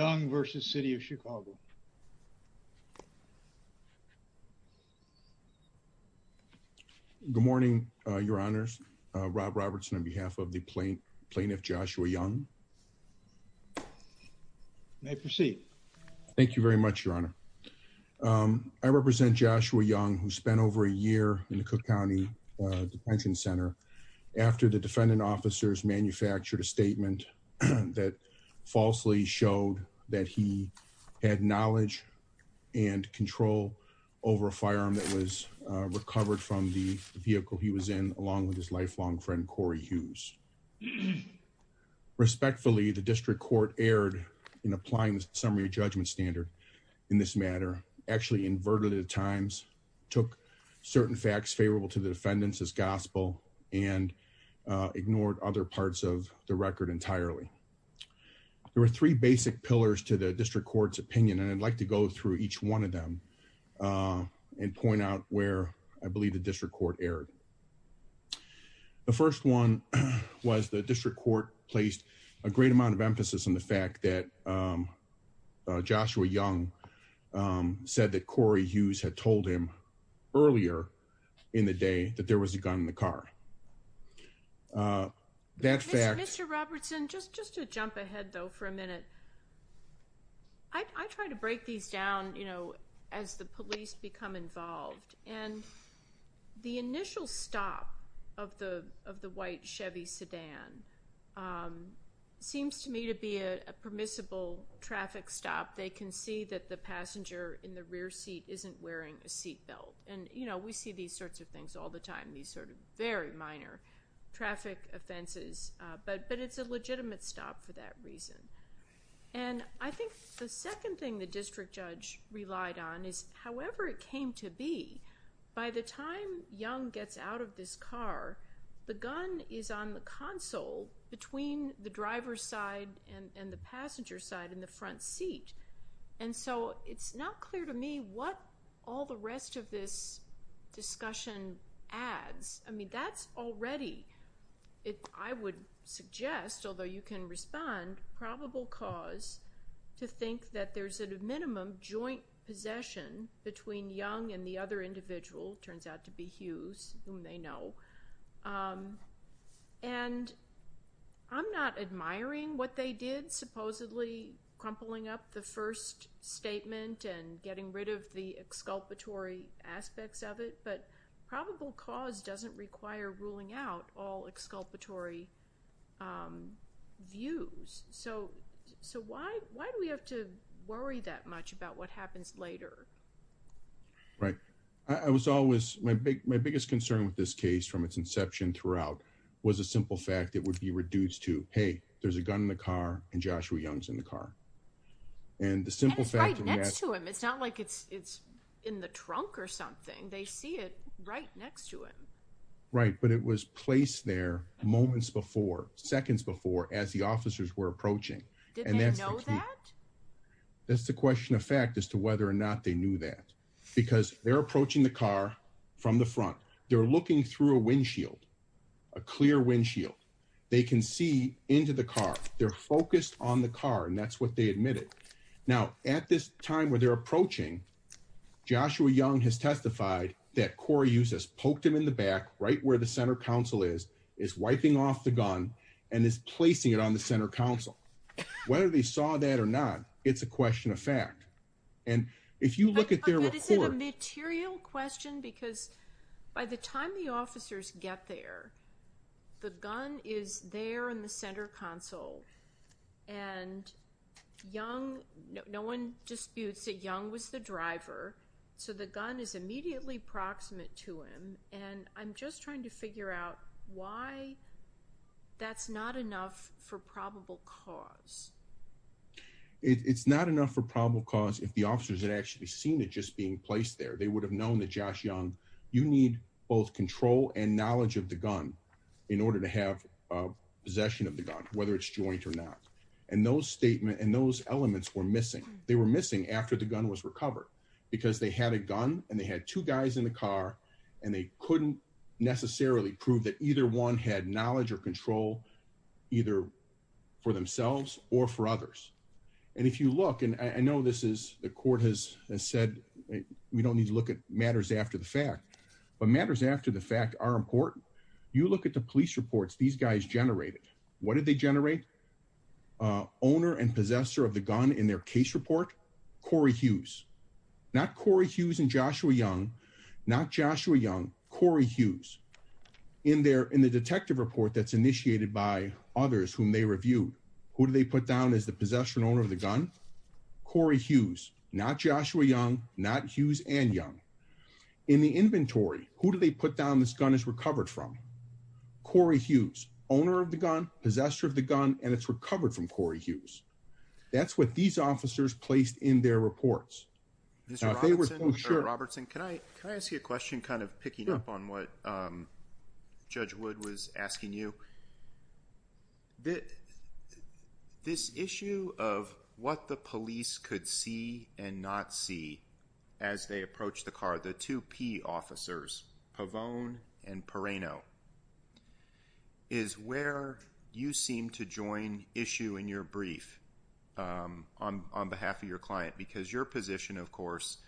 Good morning, Your Honors. Rob Robertson on behalf of the Plaintiff Joshua Young. May I proceed? Thank you very much, Your Honor. I represent Joshua Young, who spent over a year in the Cook County Detention Center after the defendant officers manufactured a statement that falsely showed that he had knowledge and control over a firearm that was recovered from the vehicle he was in, along with his lifelong friend Corey Hughes. Respectfully, the district court erred in applying the summary judgment standard in this matter, actually inverted it at times, took certain facts favorable to the defendants as gospel, and ignored other parts of the record entirely. There were three basic pillars to the district court's opinion, and I'd like to go through each one of them and point out where I believe the district court erred. The first one was the district court placed a great amount of emphasis on the fact that Joshua Young said that Corey Hughes had told him earlier in the day that there was a gun in the car. That fact... Mr. Robertson, just to jump ahead though for a minute, I try to break these down, you know, as the police become involved, and the initial stop of the white Chevy sedan seems to me to be a permissible traffic stop. They can see that the passenger in the rear seat isn't wearing a seat belt. And, you know, we see these sorts of things all the time, these sort of very minor traffic offenses, but it's a legitimate stop for that reason. And I think the second thing the district judge relied on is, however it came to be, by the time Young gets out of this car, the gun is on the console between the driver's side and the passenger's side in the front seat. And so it's not clear to me what all the rest of this discussion adds. I mean, that's already, I would suggest, although you can respond, probable cause to think that there's at a minimum joint possession between Young and the other individual, turns out to be Hughes, whom they know. And I'm not admiring what they did, supposedly crumpling up the first statement and getting rid of the exculpatory aspects of it, but probable cause doesn't require ruling out all exculpatory views. So why do we have to worry that much about what happens later? Right. I was always, my biggest concern with this case from its inception throughout was the simple fact that it would be reduced to, hey, there's a gun in the car and Joshua Young's in the car. And the simple fact- And it's right next to him. It's not like it's in the trunk or something. They see it right next to him. Right. But it was placed there moments before, seconds before, as the officers were approaching. Did they know that? That's the question of fact as to whether or not they knew that. Because they're approaching the car from the front. They're looking through a windshield, a clear windshield. They can see into the car. They're focused on the car. And that's what they admitted. Now, at this time where they're approaching, Joshua Young has testified that Corey Hughes has poked him in the back, right where the center council is, is wiping off the gun and is placing it on the center council. Whether they saw that or not, it's a question of fact. And if you look at their report- It's a good question because by the time the officers get there, the gun is there in the center council. And Young, no one disputes that Young was the driver. So, the gun is immediately proximate to him. And I'm just trying to figure out why that's not enough for probable cause. It's not enough for probable cause if the officers had actually seen it just being placed there, they would have known that Josh Young, you need both control and knowledge of the gun in order to have possession of the gun, whether it's joint or not. And those statements and those elements were missing. They were missing after the gun was recovered because they had a gun and they had two guys in the car and they couldn't necessarily prove that either one had knowledge or control either for themselves or for others. And if you look, and I know this is, the court has said, we don't need to look at matters after the fact, but matters after the fact are important. You look at the police reports these guys generated, what did they generate? Owner and possessor of the gun in their case report, Corey Hughes, not Corey Hughes and Joshua Young, not Joshua Young, Corey Hughes. In their, in the detective report that's initiated by others whom they reviewed, who do they put down as the possessor and owner of the gun? Corey Hughes, not Joshua Young, not Hughes and Young. In the inventory, who do they put down this gun is recovered from? Corey Hughes, owner of the gun, possessor of the gun, and it's recovered from Corey Hughes. That's what these officers placed in their reports. Robertson, can I, can I ask you a question, kind of picking up on what Judge Wood was saying, this issue of what the police could see and not see as they approach the car, the two P officers, Pavone and Perrano, is where you seem to join issue in your brief on behalf of your client, because your position, of course,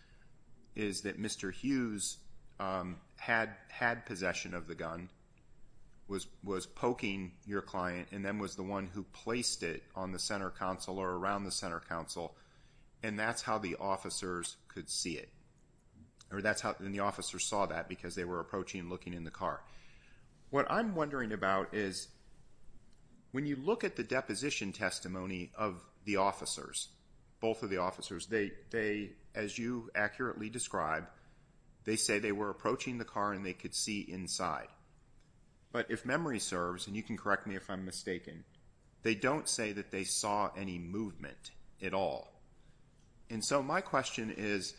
is that Mr. Hughes had possession of the gun, was poking your client, and then was the one who placed it on the center council or around the center council, and that's how the officers could see it, or that's how the officers saw that, because they were approaching and looking in the car. What I'm wondering about is, when you look at the deposition testimony of the officers, both of the officers, they, as you accurately describe, they say they were approaching the car and they could see inside, but if memory serves, and you can correct me if I'm mistaken, they don't say that they saw any movement at all, and so my question is,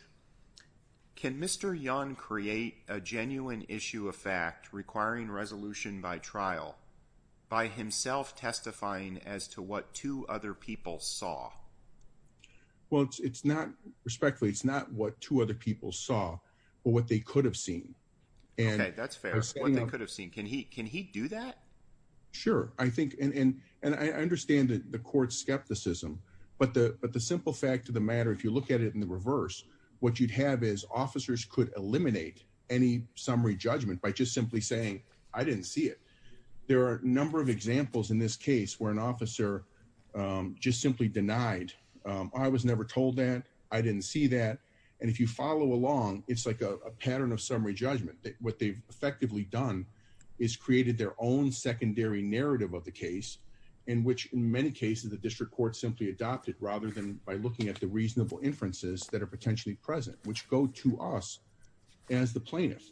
can Mr. Young create a genuine issue of fact requiring resolution by trial by himself testifying as to what two other people saw? Well, it's not, respectfully, it's not what two other people saw, but what they could have seen. Okay, that's fair. What they could have seen. Can he do that? Sure, I think, and I understand the court's skepticism, but the simple fact of the matter, if you look at it in the reverse, what you'd have is officers could eliminate any summary judgment by just simply saying, I didn't see it. There are a number of examples in this case where an officer just simply denied, I was never told that, I didn't see that, and if you follow along, it's like a pattern of summary judgment. What they've effectively done is created their own secondary narrative of the case, in which, in many cases, the district court simply adopted, rather than by looking at the reasonable inferences that are potentially present, which go to us as the plaintiff.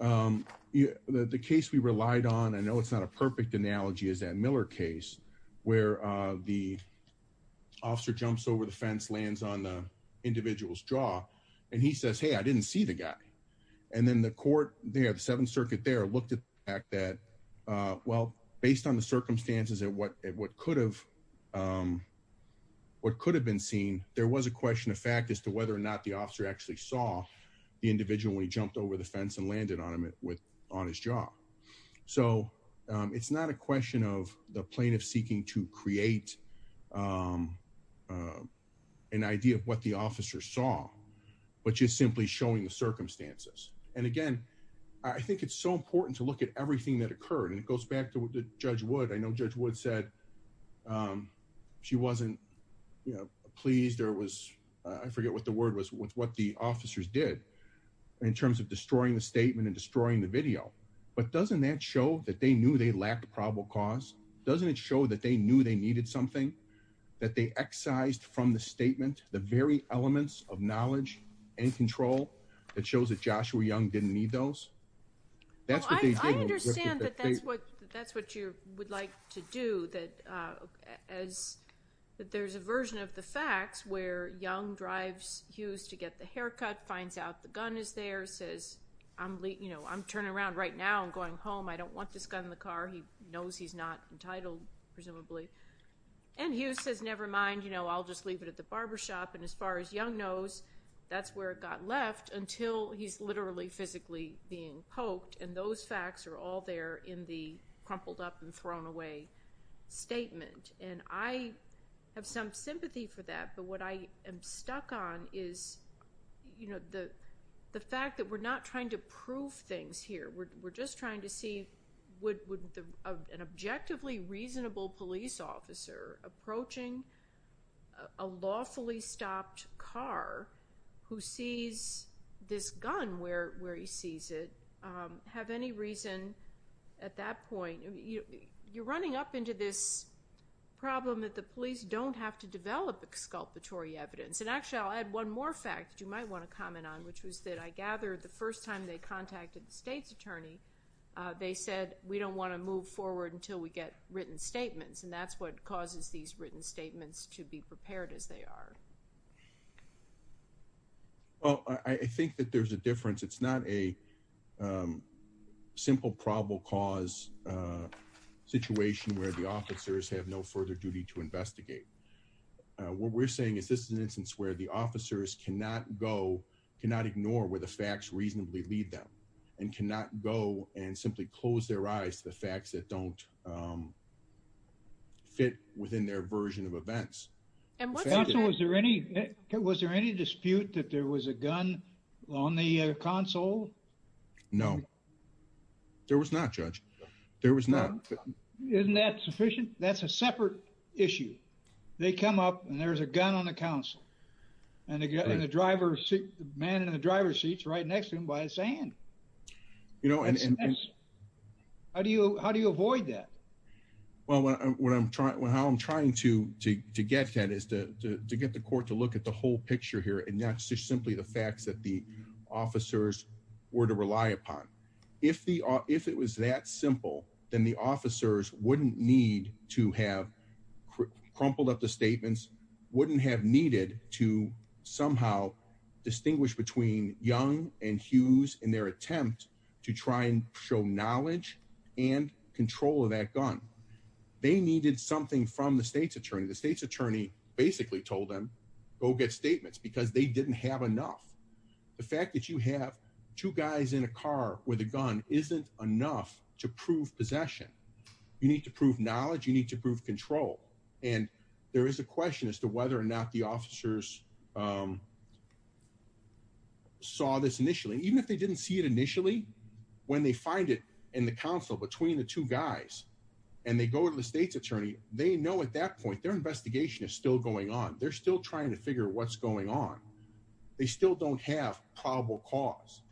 The case we relied on, I know it's not a perfect analogy, is that Miller case, where the officer jumps over the fence, lands on the individual's jaw, and he says, hey, I didn't see the guy, and then the court, the Seventh Circuit there, looked at the fact that, well, based on the circumstances at what could have been seen, there was a question of fact as to whether or not the officer actually saw the individual when he jumped over the fence and landed on his jaw. So, it's not a question of the plaintiff seeking to create an idea of what the officer saw, but just simply showing the circumstances. And again, I think it's so important to look at everything that occurred, and it goes back to what Judge Wood, I know Judge Wood said, she wasn't pleased or was, I forget what the word was, with what the officers did, in terms of destroying the statement and destroying the video. But doesn't that show that they knew they lacked a probable cause? Doesn't it show that they knew they needed something? That they excised from the statement the very elements of knowledge and control that shows that Joshua Young didn't need those? That's what they did. Well, I understand that that's what you would like to do, that there's a version of the I'm turning around right now and going home. I don't want this guy in the car. He knows he's not entitled, presumably. And Hughes says, never mind, I'll just leave it at the barbershop. And as far as Young knows, that's where it got left until he's literally physically being poked. And those facts are all there in the crumpled up and thrown away statement. And I have some sympathy for that, but what I am stuck on is the fact that we're not trying to prove things here. We're just trying to see would an objectively reasonable police officer approaching a lawfully stopped car who sees this gun where he sees it have any reason at that point. You're running up into this problem that the police don't have to develop exculpatory evidence. And actually, I'll add one more fact that you might want to comment on, which was that I gather the first time they contacted the state's attorney, they said, we don't want to move forward until we get written statements. And that's what causes these written statements to be prepared as they are. Well, I think that there's a difference. It's not a simple probable cause situation where the state's attorney has to investigate. What we're saying is this is an instance where the officers cannot go, cannot ignore where the facts reasonably lead them and cannot go and simply close their eyes to the facts that don't fit within their version of events. And was there any, was there any dispute that there was a gun on the console? No. There was not, Judge. There was not. Isn't that sufficient? That's a separate issue. They come up and there's a gun on the counsel and they get in the driver's seat, the man in the driver's seat's right next to him by his hand. You know, and how do you, how do you avoid that? Well, what I'm trying, how I'm trying to get that is to get the court to look at the whole picture here. And that's just simply the facts that the officers were to rely upon. If the, if it was that simple, then the officers wouldn't need to have crumpled up the statements, wouldn't have needed to somehow distinguish between Young and Hughes in their attempt to try and show knowledge and control of that gun. They needed something from the state's attorney. The state's attorney basically told them go get statements because they didn't have enough. The fact that you have two guys in a car with a gun isn't enough to prove possession. You need to prove knowledge. You need to prove control. And there is a question as to whether or not the officers saw this initially, even if they didn't see it initially, when they find it in the council between the two guys and they go to the state's attorney, they know at that point, their investigation is still going on. They're still trying to figure what's going on. They still don't have probable cause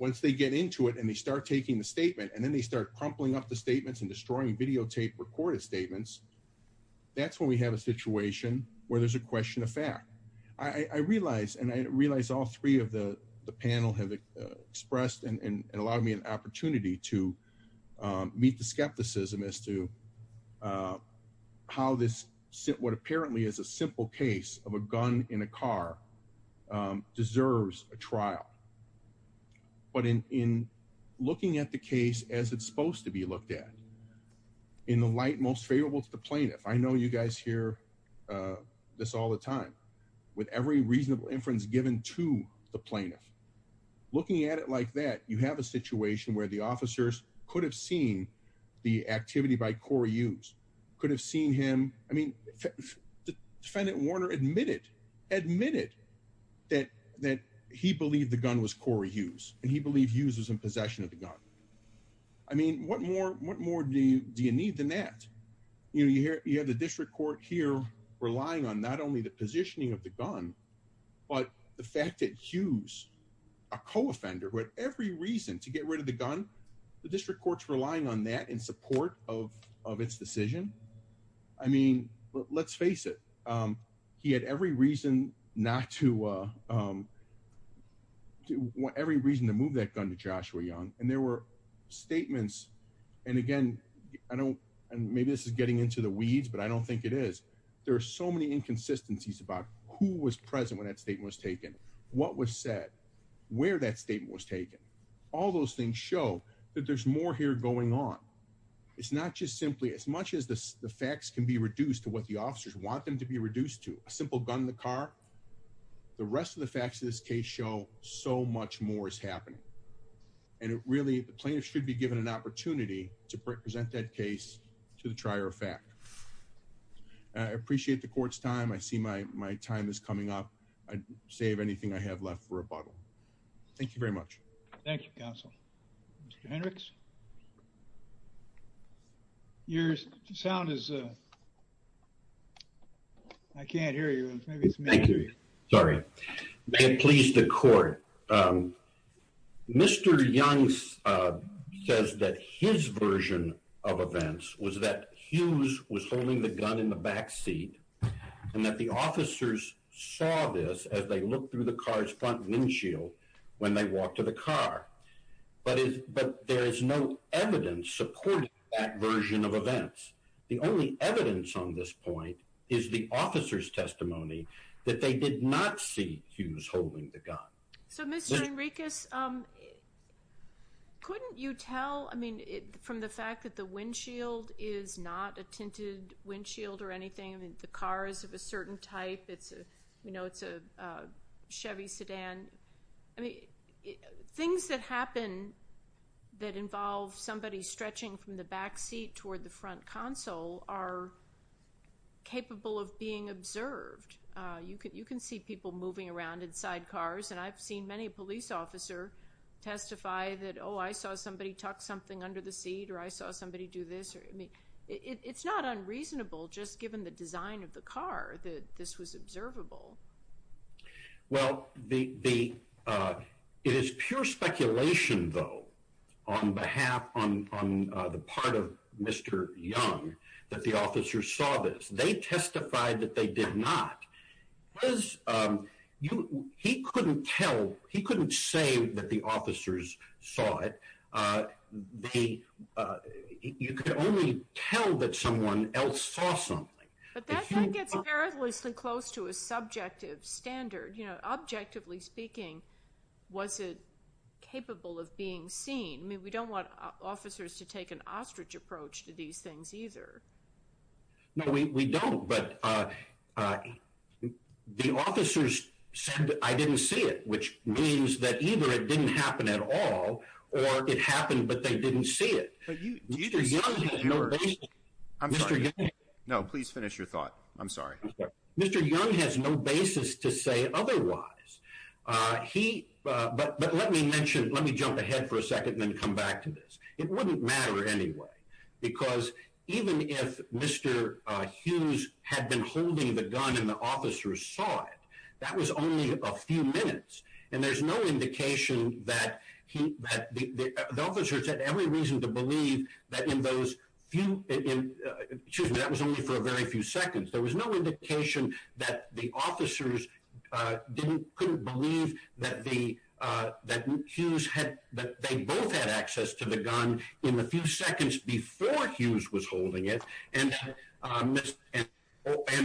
once they get into it and they start taking the statement and then they start crumpling up the statements and destroying videotape recorded statements. That's when we have a situation where there's a question of fact, I realize, and I realize all three of the panel have expressed and allowed me an opportunity to meet the skepticism as to how this sit, what deserves a trial. But in, in looking at the case as it's supposed to be looked at in the light, most favorable to the plaintiff. I know you guys hear this all the time with every reasonable inference given to the plaintiff, looking at it like that, you have a situation where the officers could have seen the activity by Corey Hughes could have seen him. I mean, defendant Warner admitted, admitted that, that he believed the gun was Corey Hughes and he believed Hughes was in possession of the gun. I mean, what more, what more do you, do you need than that? You know, you hear, you have the district court here relying on not only the positioning of the gun, but the fact that Hughes, a co-offender with every reason to get rid of the gun, the district court's relying on that in support of, of its decision. I mean, let's face it. He had every reason not to, every reason to move that gun to Joshua Young. And there were statements. And again, I don't, and maybe this is getting into the weeds, but I don't think it is. There are so many inconsistencies about who was present when that statement was taken, what was said, where that statement was taken. All those things show that there's more here going on. It's not just simply as much as the facts can be reduced to what the officers want them to be reduced to a simple gun in the car. The rest of the facts of this case show so much more is happening. And it really, the plaintiff should be given an opportunity to present that case to the District Court. I appreciate the time. I appreciate the court's time. I see my, my time is coming up. I'd save anything I have left for a bottle. Thank you very much. Thank you, counsel. Mr. Hendricks. Your sound is, I can't hear you. Thank you. Sorry. May it please the court. Mr. Young says that his version of events was that Hughes was holding the gun in the back seat and that the officers saw this as they looked through the car's front windshield when they walked to the car. But there is no evidence supporting that version of events. The only evidence on this point is the officer's testimony that they did not see Hughes holding the gun. So Mr. Enriquez, couldn't you tell, I mean, from the fact that the windshield is not a tinted windshield or anything. I mean, the car is of a certain type. It's a, you know, it's a Chevy sedan. I mean, things that happen that involve somebody stretching from the back seat toward the front console are capable of being observed. You can, you can see people moving around inside cars, and I've seen many police officer testify that, oh, I saw somebody tuck something under the seat, or I saw somebody do this, or, I mean, it's not unreasonable just given the design of the car that this was observable. Well, it is pure speculation, though, on behalf, on the part of Mr. Young, that the officers saw this. They testified that they did not. He couldn't tell, he couldn't say that the officers saw it. You could only tell that someone else saw something. But that gets perilously close to a subjective standard. You know, objectively speaking, was it capable of being seen? I mean, we don't want officers to take an ostrich approach to these things either. No, we don't, but the officers said I didn't see it, which means that either it didn't happen at all, or it happened, but they didn't see it. Mr. Young has no basis. I'm sorry. No, please finish your thought. I'm sorry. Mr. Young has no basis to say otherwise. He, but let me mention, let me jump ahead for a second, then come back to this. It wouldn't matter anyway, because even if Mr. Hughes had been holding the gun and the officers saw it, that was only a few minutes, and there's no indication that he, that the officers had every reason to believe that in those few, excuse me, that was only for a very few seconds. There was no indication that the officers didn't, couldn't believe that the, that Hughes had, that they both had access to the gun in the few seconds before Hughes was holding it, and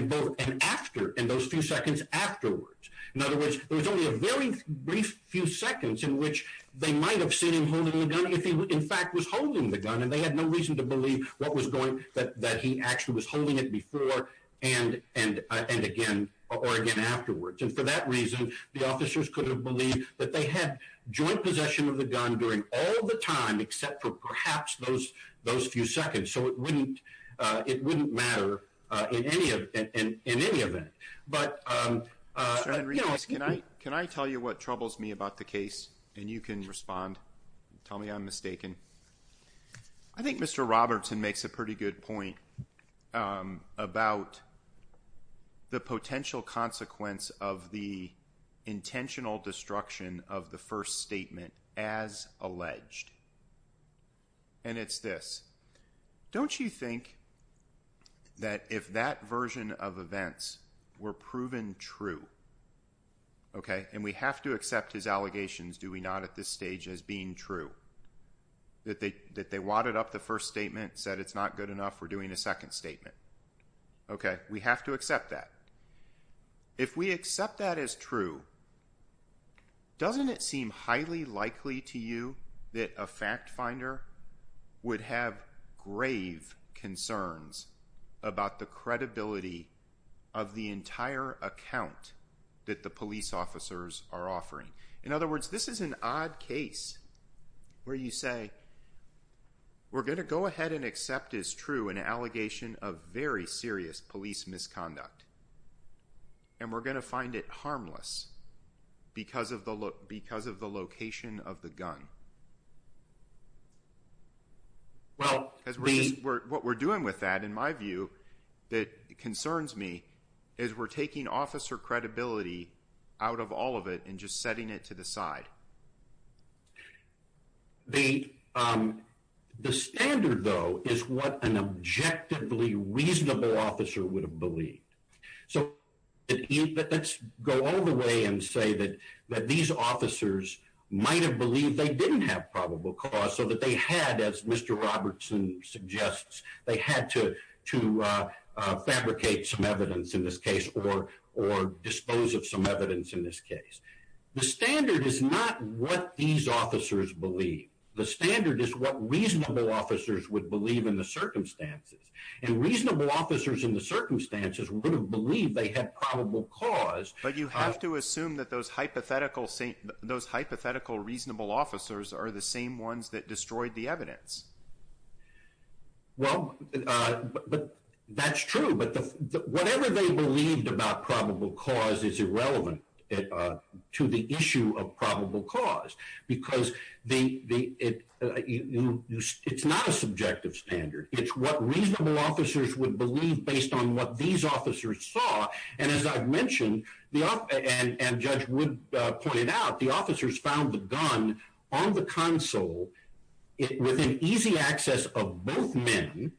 both, and after, in those few seconds afterwards. In other words, there was only a very brief few seconds in which they might have seen him holding the gun if he, in fact, was holding the gun, and they had no reason to believe what was going, that, that he actually was holding it before, and, and, and again, or again afterwards, and for that reason, the officers could have believed that they had joint possession of the gun during all the time, except for perhaps those, those few seconds, so it wouldn't, it wouldn't matter in any of, in, in, in any event, but, you know, can I tell you what troubles me about the case, and you can respond, tell me I'm mistaken. I think Mr. Robertson makes a pretty good point about the potential consequence of the case, and I think that if that version of events were proven true, okay, and we have to accept his allegations, do we not, at this stage, as being true, that they, that they wadded up the first statement, said it's not good enough, we're doing a second statement, okay, we have to accept that. If we accept that as true, doesn't it seem highly likely to you that a fact finder would have grave concerns about the credibility of the entire account that the police officers are offering? In other words, this is an odd case where you say, we're going to go ahead and accept as true an allegation of very serious police misconduct, and we're going to find it harmless because of the, because of the location of the gun. Well, what we're doing with that, in my view, that concerns me, is we're taking officer credibility out of all of it and just setting it to the side. The standard, though, is what an objectively reasonable officer would have believed. So, let's go all the way and say that these officers might have believed they didn't have probable cause so that they had, as Mr. Robertson suggests, they had to, to fabricate some evidence in this case or, or dispose of some evidence in this case. The standard is not what these officers believe. The standard is what reasonable officers would believe in the circumstances. And reasonable officers in the circumstances would have believed they had probable cause. But you have to assume that those hypothetical, those hypothetical reasonable officers are the same ones that destroyed the evidence. Well, but that's true. But whatever they believed about probable cause is irrelevant to the issue of probable cause because the, it's not a subjective standard. It's what reasonable officers would believe based on what these officers saw. And as I've mentioned, the, and Judge Wood pointed out, the officers found the gun on the console within easy access of both men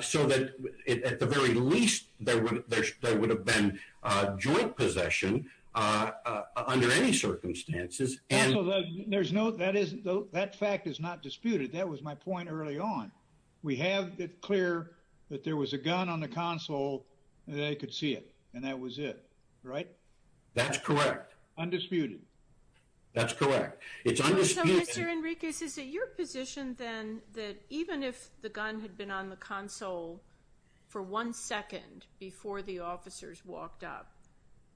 so that at the very least there would, there would have been joint possession under any circumstances. And there's no, that is, that fact is not disputed. That was my point early on. We have it clear that there was a gun on the console and they could see and that was it, right? That's correct. Undisputed. That's correct. So Mr. Enriquez, is it your position then that even if the gun had been on the console for one second before the officers walked up,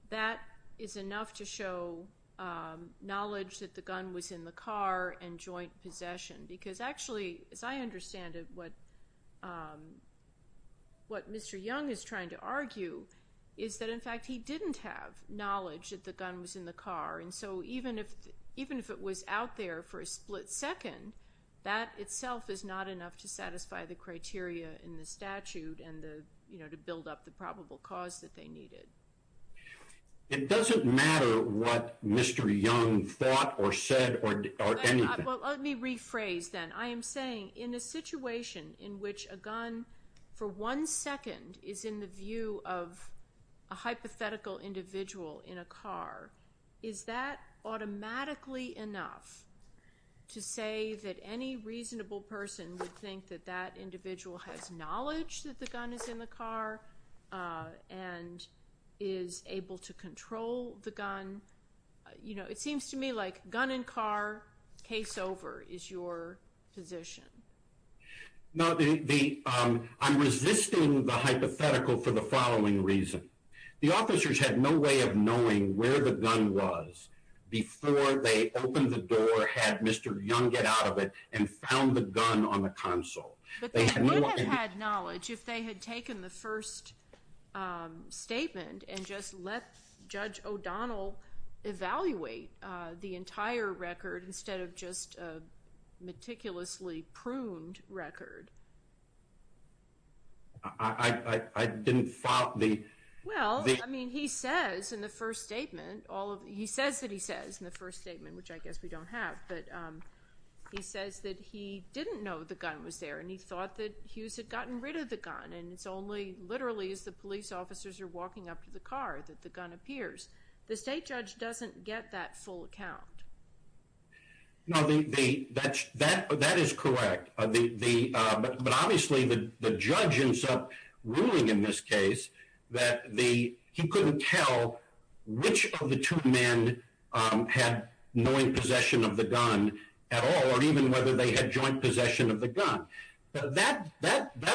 that is enough to show knowledge that the gun was in the car and joint possession? Because actually, as I understand it, what, what Mr. Young is trying to argue is that, in fact, he didn't have knowledge that the gun was in the car. And so even if, even if it was out there for a split second, that itself is not enough to satisfy the criteria in the statute and the, you know, to build up the probable cause that they needed. It doesn't matter what Mr. Young thought or said or anything. Well, let me rephrase then. I am saying in a situation in which a gun for one second is in the view of a hypothetical individual in a car, is that automatically enough to say that any reasonable person would think that that individual has knowledge that the gun is in the car and is able to control the gun? You know, it seems to me like gun in car, case over, is your position. No, the, I'm resisting the hypothetical for the following reason. The officers had no way of knowing where the gun was before they opened the door, had Mr. Young get out of it and found the gun on the console. But they would have had knowledge if they had taken the first statement and just let Judge O'Donnell evaluate the entire record instead of just a meticulously pruned record. I didn't follow the... Well, I mean, he says in the first statement all of, he says that he says in the first statement, which I guess we don't have, but he says that he didn't know the gun was there and he thought that Hughes had gotten rid of the gun and it's only literally as the police officers are walking up to the car that the gun was there. No, that is correct. But obviously the judge ends up ruling in this case that he couldn't tell which of the two men had knowing possession of the gun at all or even whether they had joint possession of the gun. That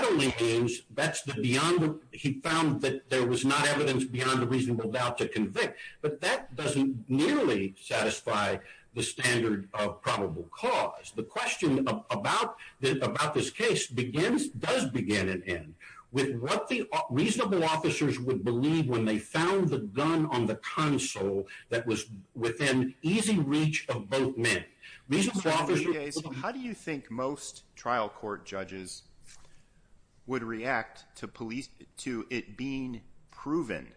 only means that's the beyond, he found that there was not evidence beyond a reasonable doubt to convict, but that doesn't nearly satisfy the standard of probable cause. The question about this case begins, does begin and end with what the reasonable officers would believe when they found the gun on the console that was within easy reach of both men. How do you think most trial court judges would react to police, to it being proven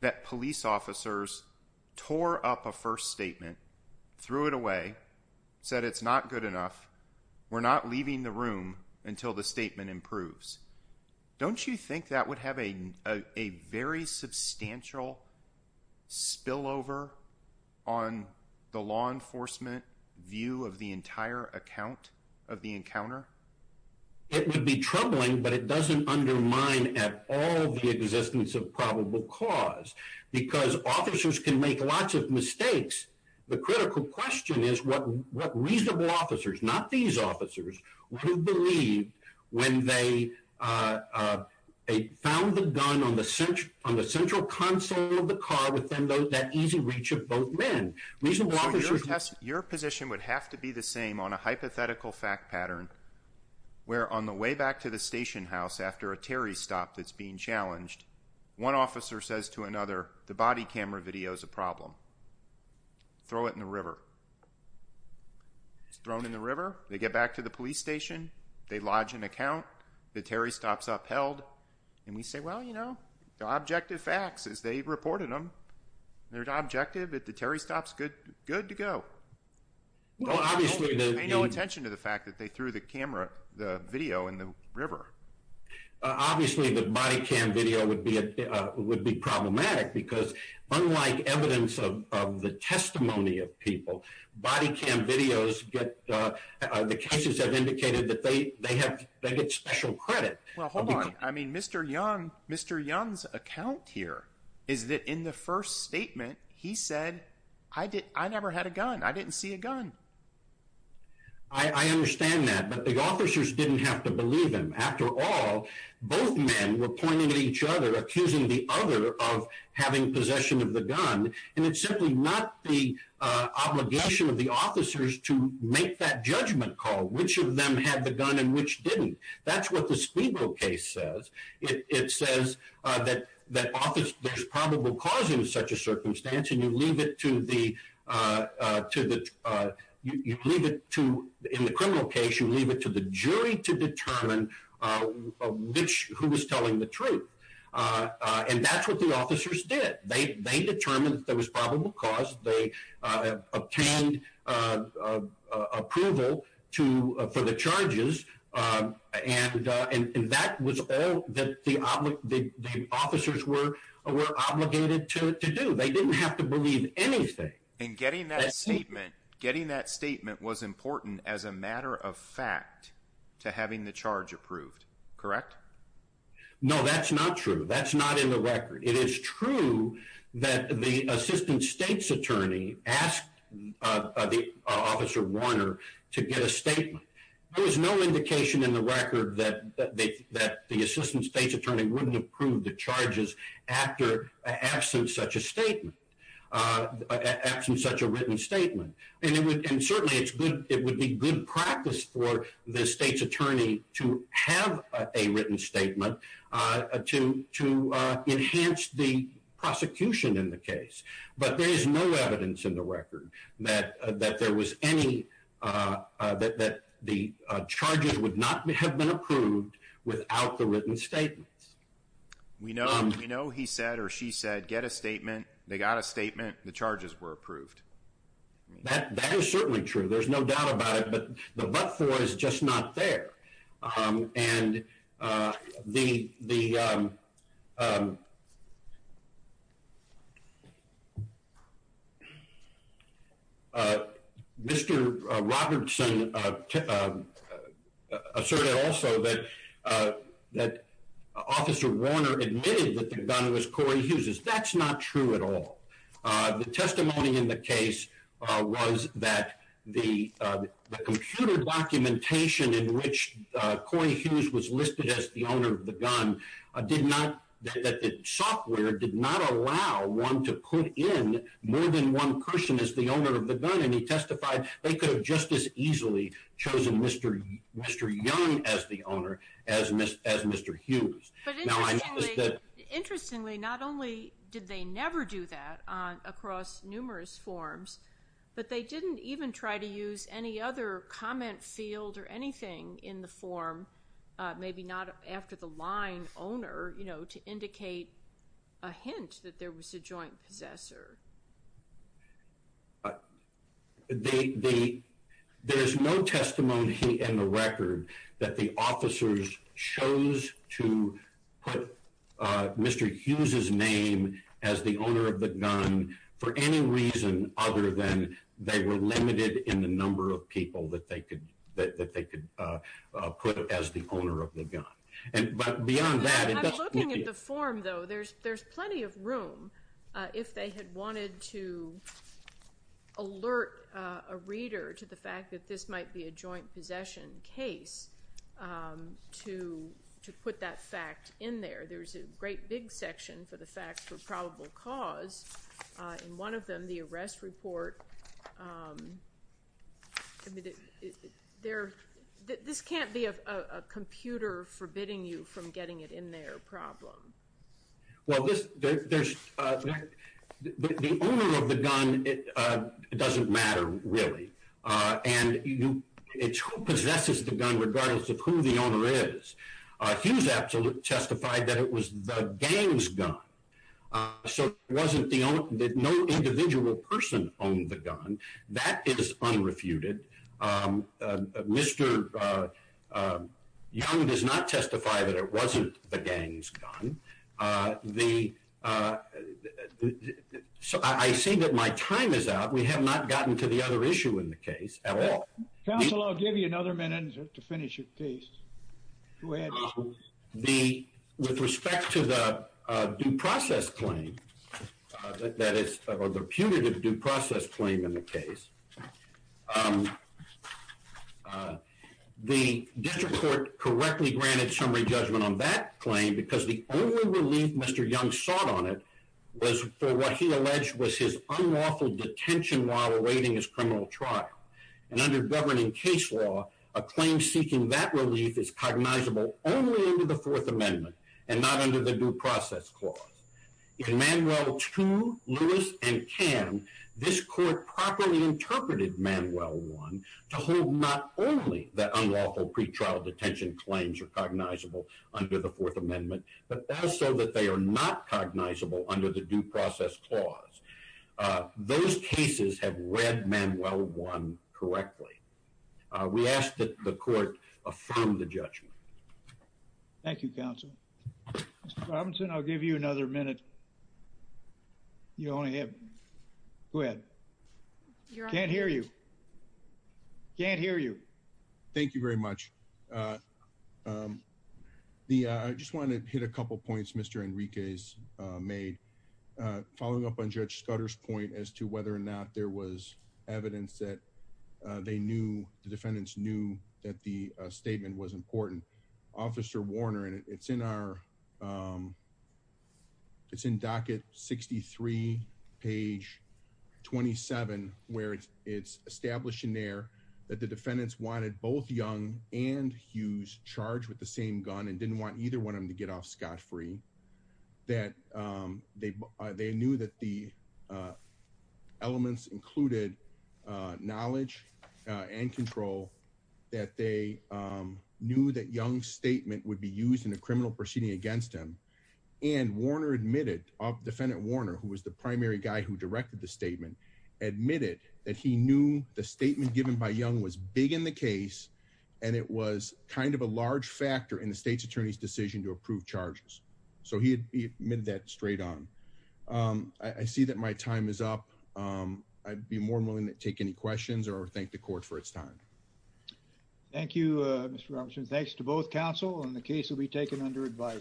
that police officers tore up a first statement, threw it away, said it's not good enough, we're not leaving the room until the statement improves? Don't you think that would have a very substantial spillover on the law enforcement view of the at all the existence of probable cause? Because officers can make lots of mistakes. The critical question is what reasonable officers, not these officers, would have believed when they found the gun on the central console of the car within that easy reach of both men. Your position would have to be the same on a hypothetical fact pattern where on the way back to the station house after a Terry stop that's being challenged, one officer says to another, the body camera video is a problem, throw it in the river. It's thrown in the river, they get back to the police station, they lodge an account, the Terry stop's upheld, and we say, well, you know, the objective facts as they reported them, they're objective that the Terry stop's good to go. Well, obviously, they pay no attention to the fact that they threw the camera, the video in the river. Obviously, the body cam video would be problematic because unlike evidence of the testimony of people, body cam videos get, the cases have indicated that they have, they get special credit. Well, hold on. I mean, Mr. Young, Mr. Young's account here is that in the first statement, he said, I never had a gun. I didn't see a gun. I understand that, but the officers didn't have to believe him. After all, both men were pointing at each other, accusing the other of having possession of the gun, and it's simply not the obligation of the officers to make that judgment call, which of them had the gun and which didn't. That's what the Spiegel case says. It says that, that office, there's probable cause in such a circumstance, and you leave it to the, to the, you leave it to, in the criminal case, you leave it to the jury to determine which, who was telling the truth. And that's what the officers did. They, they determined that there was probable cause. They obtained approval to, for the charges. And, and that was that the officers were, were obligated to do. They didn't have to believe anything. And getting that statement, getting that statement was important as a matter of fact to having the charge approved, correct? No, that's not true. That's not in the record. It is true that the assistant state's attorney asked the officer Warner to get a statement. There was no indication in the record that, that the, that the assistant state's attorney wouldn't approve the charges after absence such a statement, absent such a written statement. And it would, and certainly it's good, it would be good practice for the state's attorney to have a written statement to, to enhance the prosecution in the case. But there is no evidence in the record that the charges would not have been approved without the written statements. We know, we know he said, or she said, get a statement. They got a statement. The charges were approved. That, that is certainly true. There's no doubt about it, but the what for is just not there. And the, the Mr. Robertson asserted also that, that officer Warner admitted that the gun was Corey Hughes's. That's not true at all. The testimony in the case was that the, the computer documentation in which Corey Hughes was listed as the owner of the gun did not, that the software did not allow one to put in more than one person as the owner of the gun. And he testified they could have just as easily chosen Mr. Young as the owner as Mr. Hughes. But interestingly, not only did they never do that across numerous forms, but they didn't even try to use any other comment field or anything in the form, maybe not after the line owner, you know, to indicate a hint that there was a joint possessor. The, the, there's no testimony in the record that the officers chose to put Mr. Hughes's name as the owner of the gun for any reason other than they were limited in the number of people that they could, that, that they could put as the owner of the gun. And, but beyond that. I'm looking at the form though, there's, there's plenty of room if they had wanted to alert a reader to the fact that this might be a joint possession case to, to put that fact in there. There's a great big section for the facts for probable cause in one of them, the arrest report. I mean, there, this can't be a computer forbidding you from getting it in there problem. Well, there's, the owner of the gun, it doesn't matter really. And it's who possesses the gun regardless of who the owner is. Hughes absolutely testified that it was the gang's gun. So it wasn't the only, no individual person owned the gun. That is unrefuted. Mr. Young does not testify that it wasn't the gang's gun. The, so I say that my time is out. We have not gotten to the other issue in the case at all. Counselor, I'll give you another minute to finish your case. The, with respect to the due process claim, that is the putative due process claim in the case, the district court correctly granted summary judgment on that claim because the only relief Mr. Young sought on it was for what he alleged was his unlawful detention while awaiting his criminal trial. And under governing case law, a claim seeking that relief is cognizable only under the fourth amendment and not under the due process clause. In Manuel 2, Lewis and Cam, this court properly interpreted Manuel 1 to hold not only that unlawful pretrial detention claims are cognizable under the fourth amendment, but also that they are not cognizable under the due process clause. Those cases have read Manuel 1 correctly. We ask that the court affirm the judgment. Thank you, counsel. Mr. Robinson, I'll give you another minute. You only have, go ahead. Can't hear you. Can't hear you. Thank you very much. The, I just want to hit a couple points Mr. Enriquez made, following up on Judge Scudder's point as to whether or not there was evidence that they knew, the defendants knew that the statement was important. Officer Warner, and it's in our, it's in docket 63, page 27, where it's established in there that the defendants wanted both Young and Hughes charged with the same gun and didn't want either one of them to get off scot-free, that they knew that the elements included knowledge and control, that they knew that Young's statement would be used in a criminal proceeding against him. And Warner admitted, defendant Warner, who was the primary guy who directed the statement, admitted that he knew the statement given by Young was big in the case and it was kind of a large factor in the state's attorney's decision to approve charges. So he admitted that straight on. I see that my time is up. I'd be more than willing to take any questions or thank the court for its time. Thank you, Mr. Robinson. Thanks to both counsel and the case will be taken under advice.